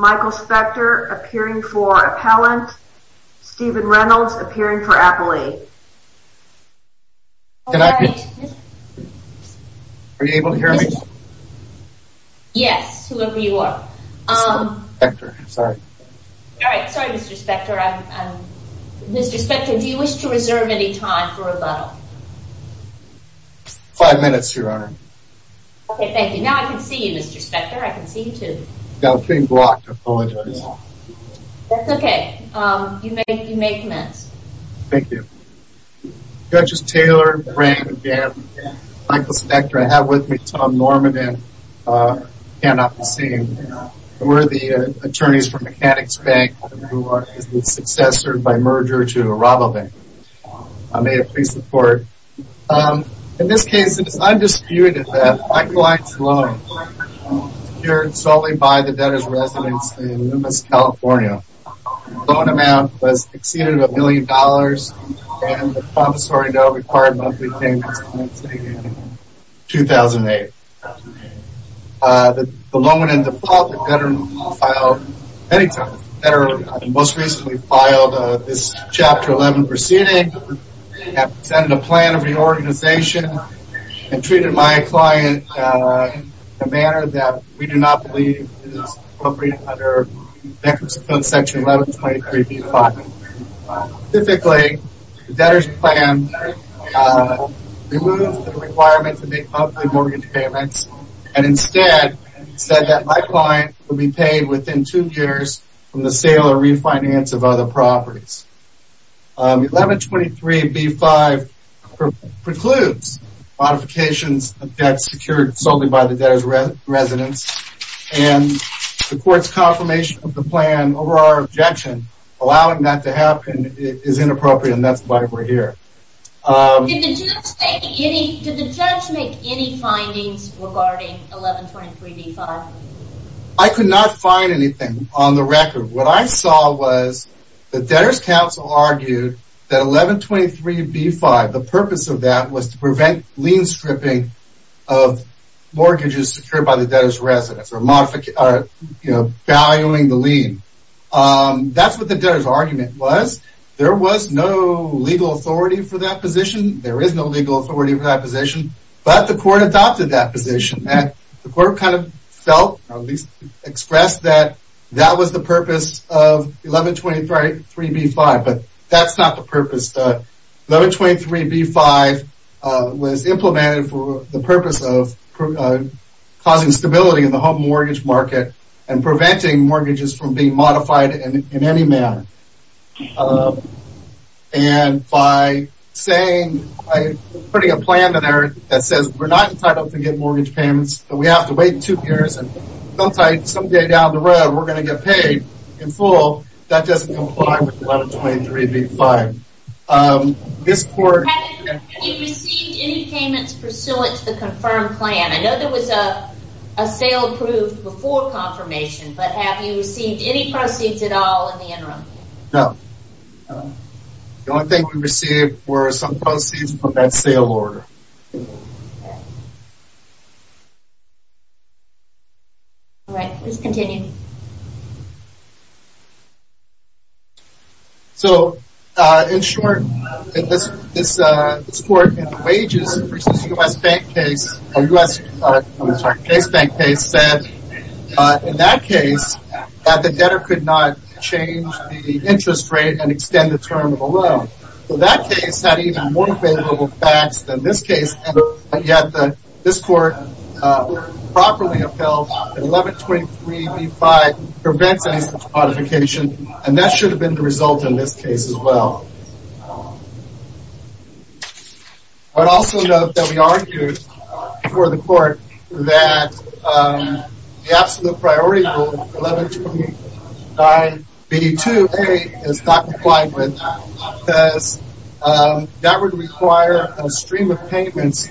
Michael Spector appearing for Appellant, Stephen Reynolds appearing for Appellee. Can I... Are you able to hear me? Yes, whoever you are. Mr. Spector, sorry. All right, sorry Mr. Spector. Mr. Spector, do you wish to reserve any time for rebuttal? Five minutes, Your Honor. Okay, thank you. Now I can see you, Mr. Spector. I can see you too. Yeah, I'm being blocked. I apologize. That's okay. You may commence. Thank you. Judges Taylor, Brain, Gabb, Michael Spector. I have with me Tom Norman and Ken Opperseen, who are the attorneys for Mechanics Bank, who are the successor, by merger, to Aramo Bank. May I please report? In this case, it is undisputed that my client's loan, secured solely by the debtor's residence in Loomis, California, the loan amount was exceeding a million dollars, and the promissory note required monthly payments was made in 2008. The loan, in default, the debtor filed many times. The debtor most recently filed this Chapter 11 proceeding, presented a plan of reorganization, and treated my client in a manner that we do not believe is appropriate under Section 1123B5. Specifically, the debtor's plan removed the requirement to make monthly mortgage payments and instead said that my client would be paid within two years from the sale or refinance of other properties. 1123B5 precludes modifications of debts secured solely by the debtor's residence, and the court's confirmation of the plan over our objection, allowing that to happen, is inappropriate, and that's why we're here. Did the judge make any findings regarding 1123B5? I could not find anything on the record. What I saw was the debtor's counsel argued that 1123B5, the purpose of that was to prevent lien stripping of mortgages secured by the debtor's residence, or valuing the lien. That's what the debtor's argument was. There was no legal authority for that position. There is no legal authority for that position, but the court adopted that position. The court expressed that that was the purpose of 1123B5, but that's not the purpose. 1123B5 was implemented for the purpose of causing stability in the home mortgage market and preventing mortgages from being modified in any manner. And by putting a plan in there that says, we're not entitled to get mortgage payments, but we have to wait two years, and some day down the road we're going to get paid in full, that doesn't comply with 1123B5. Have you received any payments pursuant to the confirmed plan? I know there was a sale approved before confirmation, but have you received any proceeds at all in the interim? No. The only thing we received were some proceeds from that sale order. Alright, please continue. So, in short, this court in the wages versus U.S. case bank case said, in that case, that the debtor could not change the interest rate and extend the term of a loan. So that case had even more available facts than this case, and yet this court properly upheld that 1123B5 prevents any such modification, and that should have been the result in this case as well. I would also note that we argued before the court that the absolute priority rule, 1123B2A, is not complied with, because that would require a stream of payments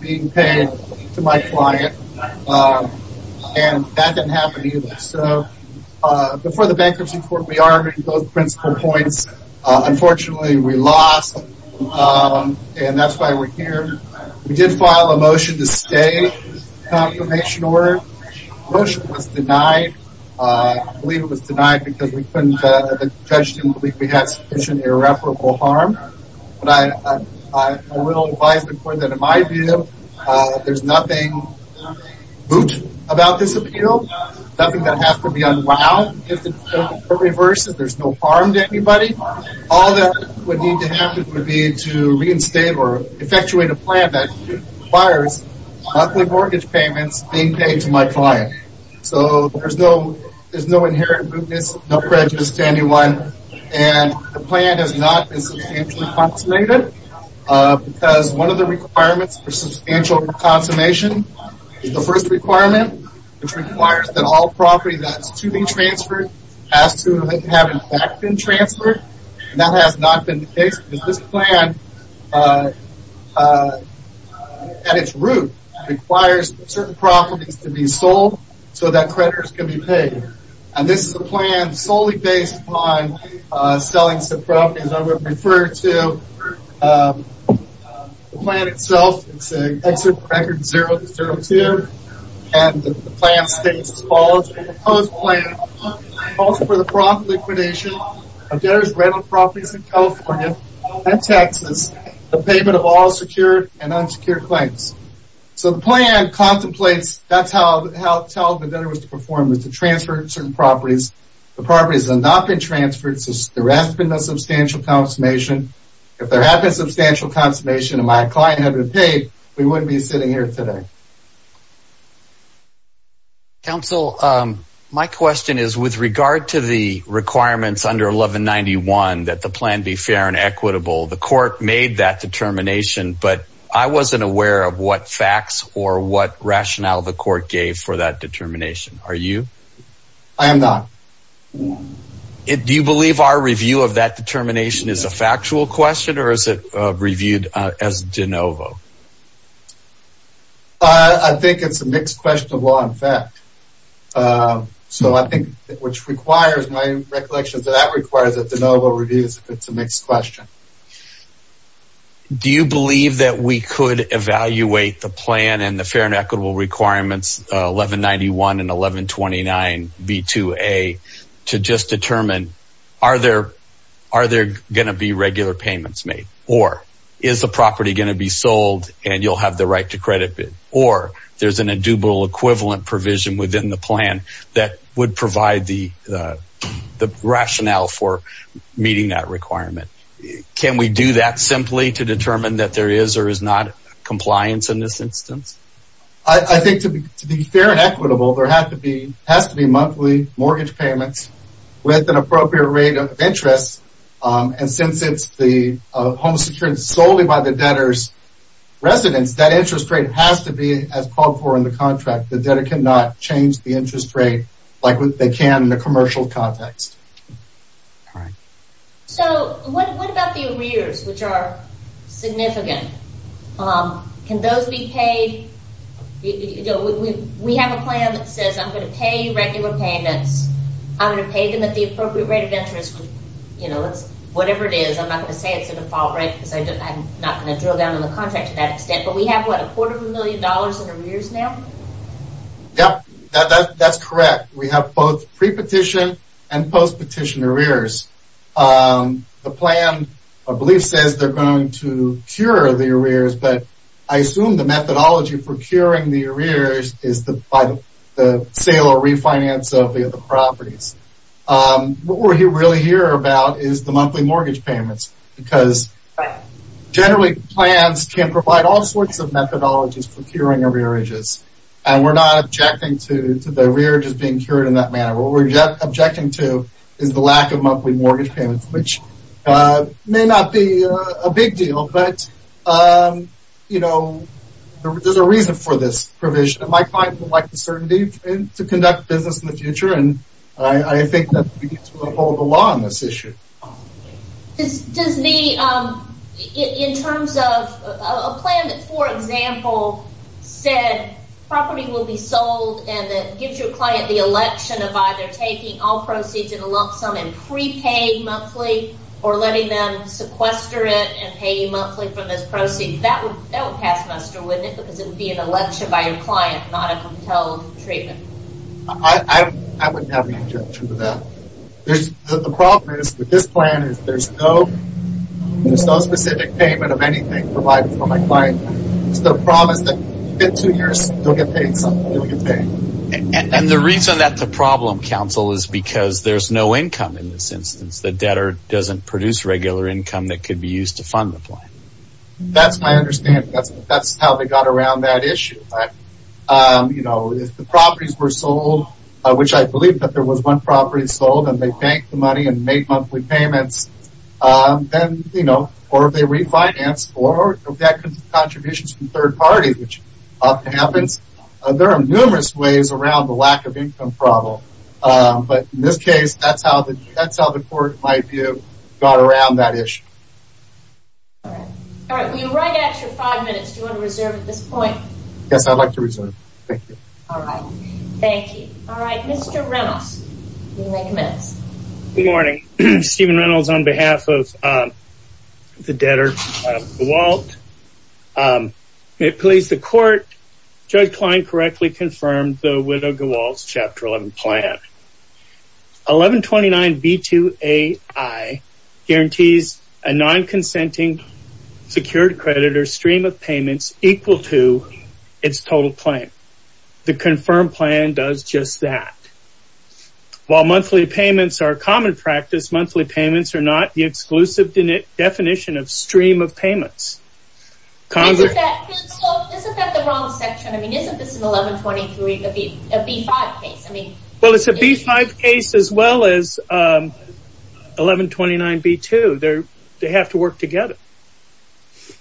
being paid to my client, and that didn't happen either. Before the bankruptcy court, we argued those principal points. Unfortunately, we lost, and that's why we're here. We did file a motion to stay the confirmation order. The motion was denied. I believe it was denied because the judge didn't believe we had sufficient irreparable harm. But I will advise the court that in my view, there's nothing moot about this appeal. Nothing that has to be unwound. If the court reverses, there's no harm to anybody. All that would need to happen would be to reinstate or effectuate a plan that requires monthly mortgage payments being paid to my client. So there's no inherent mootness, no prejudice to anyone, and the plan has not been substantially consummated because one of the requirements for substantial consummation, the first requirement, which requires that all property that's to be transferred has to have in fact been transferred. That has not been the case because this plan, at its root, requires certain properties to be sold so that creditors can be paid. And this is a plan solely based on selling some properties I would refer to. The plan itself, it's an exit record 0-0-2, and the plan states as follows, the proposed plan calls for the prompt liquidation of debtors' rental properties in California and Texas, the payment of all secured and unsecured claims. So the plan contemplates, that's how the debtor was to perform, was to transfer certain properties. The properties have not been transferred, so there has been no substantial consummation. If there had been substantial consummation and my client had been paid, we wouldn't be sitting here today. Counsel, my question is with regard to the requirements under 1191, that the plan be fair and equitable, the court made that determination, but I wasn't aware of what facts or what rationale the court gave for that determination. Are you? I am not. Do you believe our review of that determination is a factual question, or is it reviewed as de novo? I think it's a mixed question of law and fact. So I think, which requires my recollection, that that requires a de novo review if it's a mixed question. Do you believe that we could evaluate the plan and the fair and equitable requirements, 1191 and 1129B2A, to just determine are there going to be regular payments made, or is the property going to be sold and you'll have the right to credit bid, or there's an indubitable equivalent provision within the plan that would provide the rationale for meeting that requirement? Can we do that simply to determine that there is or is not compliance in this instance? I think to be fair and equitable, there has to be monthly mortgage payments with an appropriate rate of interest, and since it's the home secured solely by the debtor's residence, that interest rate has to be as called for in the contract. The debtor cannot change the interest rate like they can in a commercial context. So what about the arrears, which are significant? Can those be paid? We have a plan that says I'm going to pay regular payments. I'm going to pay them at the appropriate rate of interest. Whatever it is, I'm not going to say it's a default rate because I'm not going to drill down on the contract to that extent, but we have, what, a quarter of a million dollars in arrears now? Yeah, that's correct. We have both pre-petition and post-petition arrears. The plan, I believe, says they're going to cure the arrears, but I assume the methodology for curing the arrears is by the sale or refinance of the properties. What we're really here about is the monthly mortgage payments because generally plans can provide all sorts of methodologies for curing arrearages, and we're not objecting to the arrearages being cured in that manner. What we're objecting to is the lack of monthly mortgage payments, which may not be a big deal, but there's a reason for this provision. My client would like the certainty to conduct business in the future, and I think that we need to uphold the law on this issue. In terms of a plan that, for example, said property will be sold and that gives your client the election of either taking all proceeds in a lump sum and pre-paying monthly or letting them sequester it and pay you monthly for this proceed, that would pass muster, wouldn't it? Because it would be an election by your client, not a compelled treatment. I wouldn't have any objection to that. The problem is with this plan is there's no specific payment of anything provided for my client. The problem is that within two years, they'll get paid something. And the reason that's a problem, counsel, is because there's no income in this instance. The debtor doesn't produce regular income that could be used to fund the plan. That's my understanding. That's how they got around that issue. If the properties were sold, which I believe that there was one property sold, and they banked the money and made monthly payments, then, you know, or if they refinanced, or if they had contributions from third parties, which often happens, there are numerous ways around the lack of income problem. But in this case, that's how the court, in my view, got around that issue. All right. We have an extra five minutes. Do you want to reserve at this point? Yes, I'd like to reserve. Thank you. All right. Thank you. All right. Mr. Reynolds, you may commence. Good morning. Stephen Reynolds on behalf of the debtor, Gowalt. May it please the court, Judge Klein correctly confirmed the Widow Gowalt's Chapter 11 plan. 1129B2AI guarantees a non-consenting secured creditor stream of payments equal to its total plan. The confirmed plan does just that. While monthly payments are common practice, monthly payments are not the exclusive definition of stream of payments. Isn't that the wrong section? I mean, isn't this an 1123B5 case? Well, it's a B5 case as well as 1129B2. They have to work together.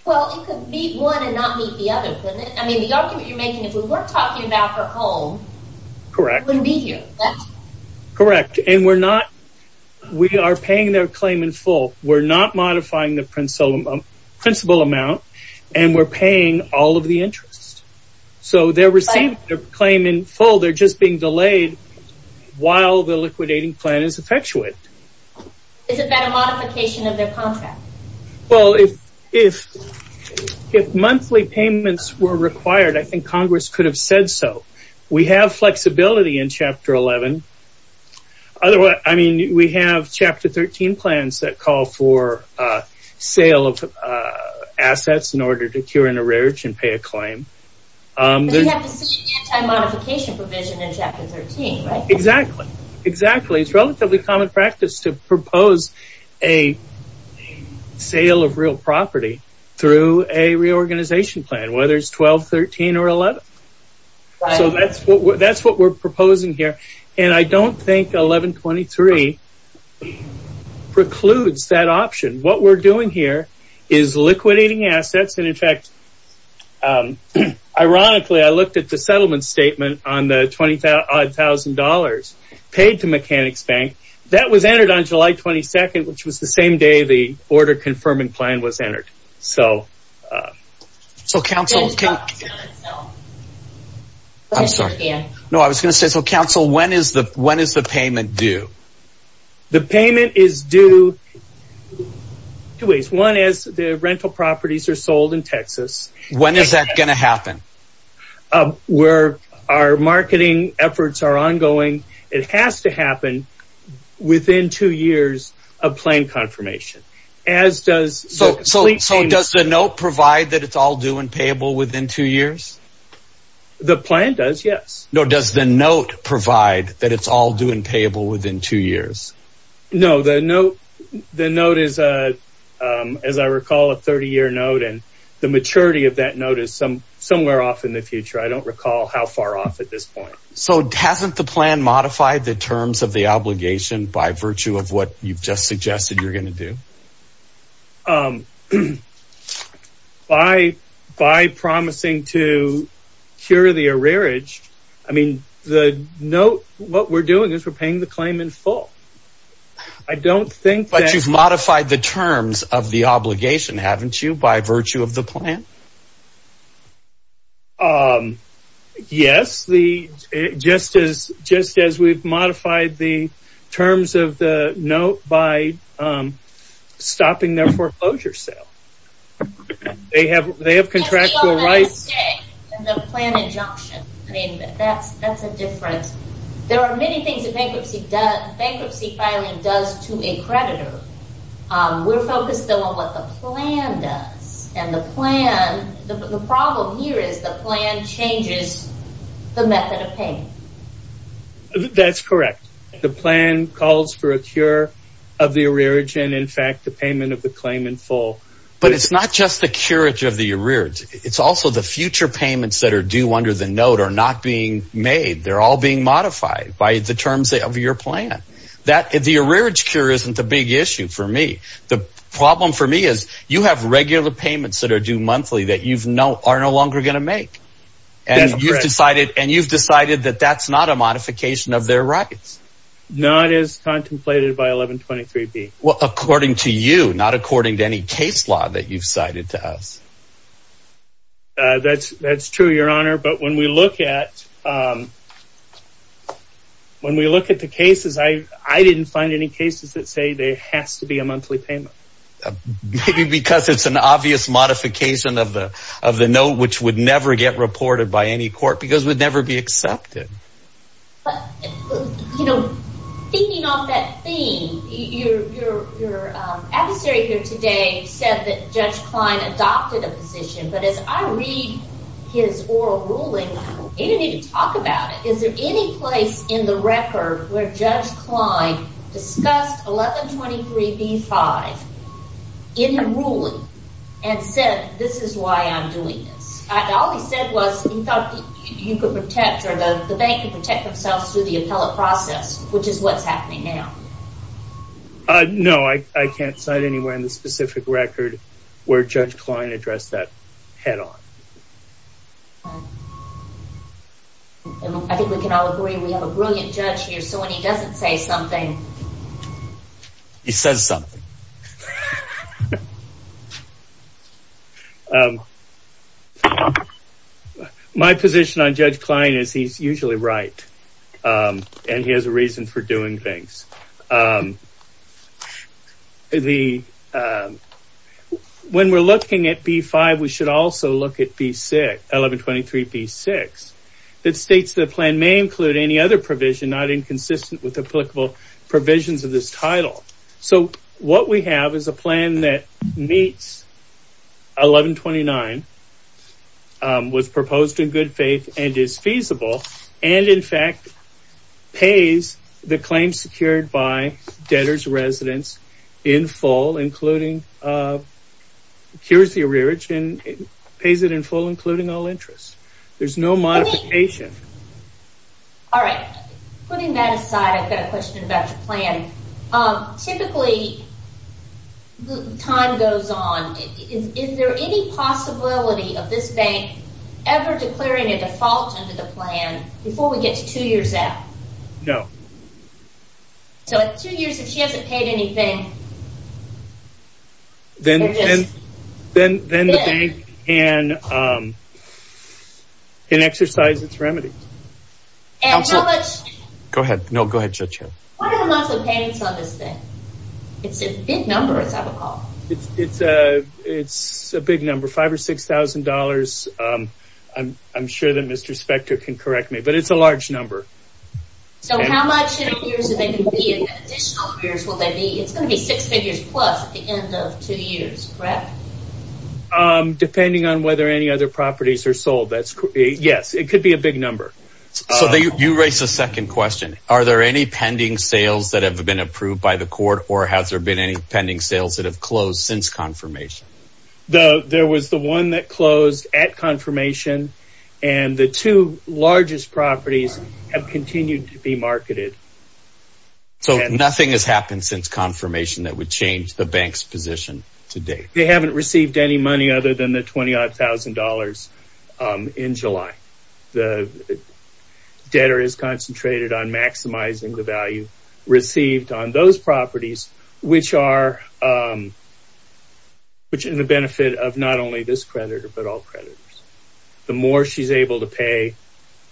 Well, it could meet one and not meet the other, couldn't it? I mean, the argument you're making, if we weren't talking about her home, she wouldn't be here, correct? Correct. And we are paying their claim in full. We're not modifying the principal amount, and we're paying all of the interest. So they're receiving their claim in full. They're just being delayed while the liquidating plan is effectuate. Isn't that a modification of their contract? Well, if monthly payments were required, I think Congress could have said so. We have flexibility in Chapter 11. I mean, we have Chapter 13 plans that call for sale of assets in order to cure an errage and pay a claim. But you have the same anti-modification provision in Chapter 13, right? Exactly. Exactly. It's relatively common practice to propose a sale of real property through a reorganization plan, whether it's 1213 or 11. So that's what we're proposing here. And I don't think 1123 precludes that option. What we're doing here is liquidating assets. And in fact, ironically, I looked at the settlement statement on the $20,000 paid to Mechanics Bank. That was entered on July 22nd, which was the same day the order confirming plan was entered. I'm sorry. No, I was going to say, so Council, when is the payment due? The payment is due two ways. One is the rental properties are sold in Texas. When is that going to happen? Where our marketing efforts are ongoing, it has to happen within two years of plan confirmation. So does the note provide that it's all due and payable within two years? The plan does, yes. No, does the note provide that it's all due and payable within two years? No, the note is, as I recall, a 30-year note. And the maturity of that note is somewhere off in the future. I don't recall how far off at this point. So hasn't the plan modified the terms of the obligation by virtue of what you've just suggested you're going to do? By promising to cure the arrearage, I mean, the note, what we're doing is we're paying the claim in full. But you've modified the terms of the obligation, haven't you, by virtue of the plan? Yes, just as we've modified the terms of the note by stopping their foreclosure sale. They have contractual rights. And the plan injunction. I mean, that's a difference. There are many things that bankruptcy filing does to a creditor. We're focused, though, on what the plan does. And the plan, the problem here is the plan changes the method of payment. That's correct. The plan calls for a cure of the arrearage and, in fact, the payment of the claim in full. But it's not just the cure of the arrearage. It's also the future payments that are due under the note are not being made. They're all being modified by the terms of your plan. The arrearage cure isn't the big issue for me. The problem for me is you have regular payments that are due monthly that you are no longer going to make. And you've decided that that's not a modification of their rights. Not as contemplated by 1123B. Well, according to you, not according to any case law that you've cited to us. That's true, Your Honor. But when we look at the cases, I didn't find any cases that say there has to be a monthly payment. Maybe because it's an obvious modification of the note which would never get reported by any court because it would never be accepted. But, you know, thinking of that theme, your adversary here today said that Judge Klein adopted a position. But as I read his oral ruling, I don't even need to talk about it. Is there any place in the record where Judge Klein discussed 1123B-5 in the ruling and said this is why I'm doing this? All he said was he thought you could protect or the bank could protect themselves through the appellate process, which is what's happening now. No, I can't cite anywhere in the specific record where Judge Klein addressed that head on. I think we can all agree we have a brilliant judge here. So when he doesn't say something, he says something. My position on Judge Klein is he's usually right. And he has a reason for doing things. When we're looking at B-5, we should also look at 1123B-6. It states the plan may include any other provision not inconsistent with applicable provisions of this title. So what we have is a plan that meets 1129, was proposed in good faith, and is feasible. And, in fact, pays the claim secured by debtor's residence in full, including, cures the arrearage, and pays it in full including all interest. There's no modification. Alright, putting that aside, I've got a question about your plan. Typically, time goes on. Is there any possibility of this bank ever declaring a default under the plan before we get to two years out? No. So at two years, if she hasn't paid anything... Then the bank can exercise its remedy. And how much... Go ahead. No, go ahead, Judge. What are the amounts of payments on this thing? It's a big number, as I recall. It's a big number. Five or six thousand dollars. I'm sure that Mr. Spector can correct me, but it's a large number. So how much in a few years will they be? It's going to be six figures plus at the end of two years, correct? Depending on whether any other properties are sold. Yes, it could be a big number. So you raised a second question. Are there any pending sales that have been approved by the court, or has there been any pending sales that have closed since confirmation? There was the one that closed at confirmation, and the two largest properties have continued to be marketed. So nothing has happened since confirmation that would change the bank's position to date? They haven't received any money other than the twenty-odd thousand dollars in July. The debtor is concentrated on maximizing the value received on those properties, which are in the benefit of not only this creditor, but all creditors. The more she's able to pay,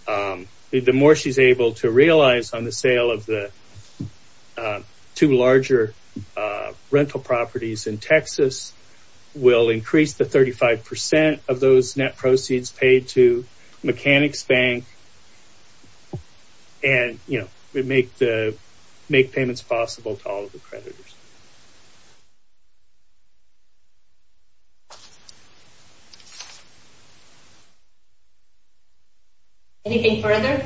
the more she's able to realize on the sale of the two larger rental properties in Texas will increase the thirty-five percent of those net proceeds paid to Mechanics Bank and make payments possible to all of the creditors. Anything further?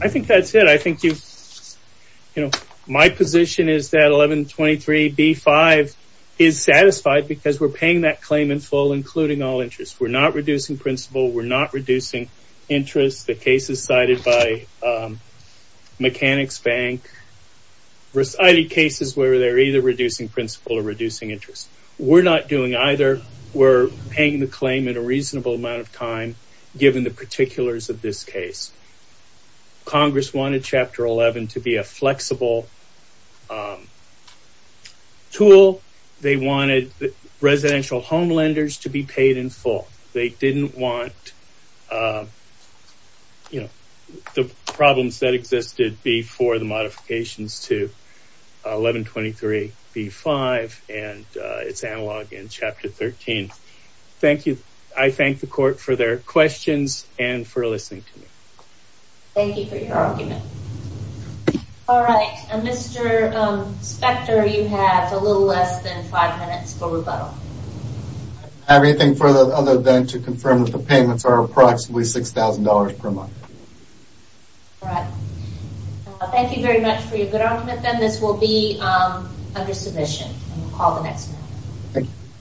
I think that's it. My position is that 1123B5 is satisfied because we're paying that claim in full, including all interest. We're not reducing principal. We're not reducing interest. The case is cited by Mechanics Bank. There are cases where they're either reducing principal or reducing interest. We're not doing either. We're paying the claim in a reasonable amount of time given the particulars of this case. Congress wanted Chapter 11 to be a flexible tool. They wanted residential home lenders to be paid in full. They didn't want the problems that existed before the modifications to 1123B5 and its analog in Chapter 13. Thank you. I thank the court for their questions and for listening to me. Thank you for your argument. All right. Mr. Spector, you have a little less than five minutes for rebuttal. I don't have anything other than to confirm that the payments are approximately $6,000 per month. All right. Thank you very much for your good argument, Ben. This will be under submission and we'll call the next one. Thank you.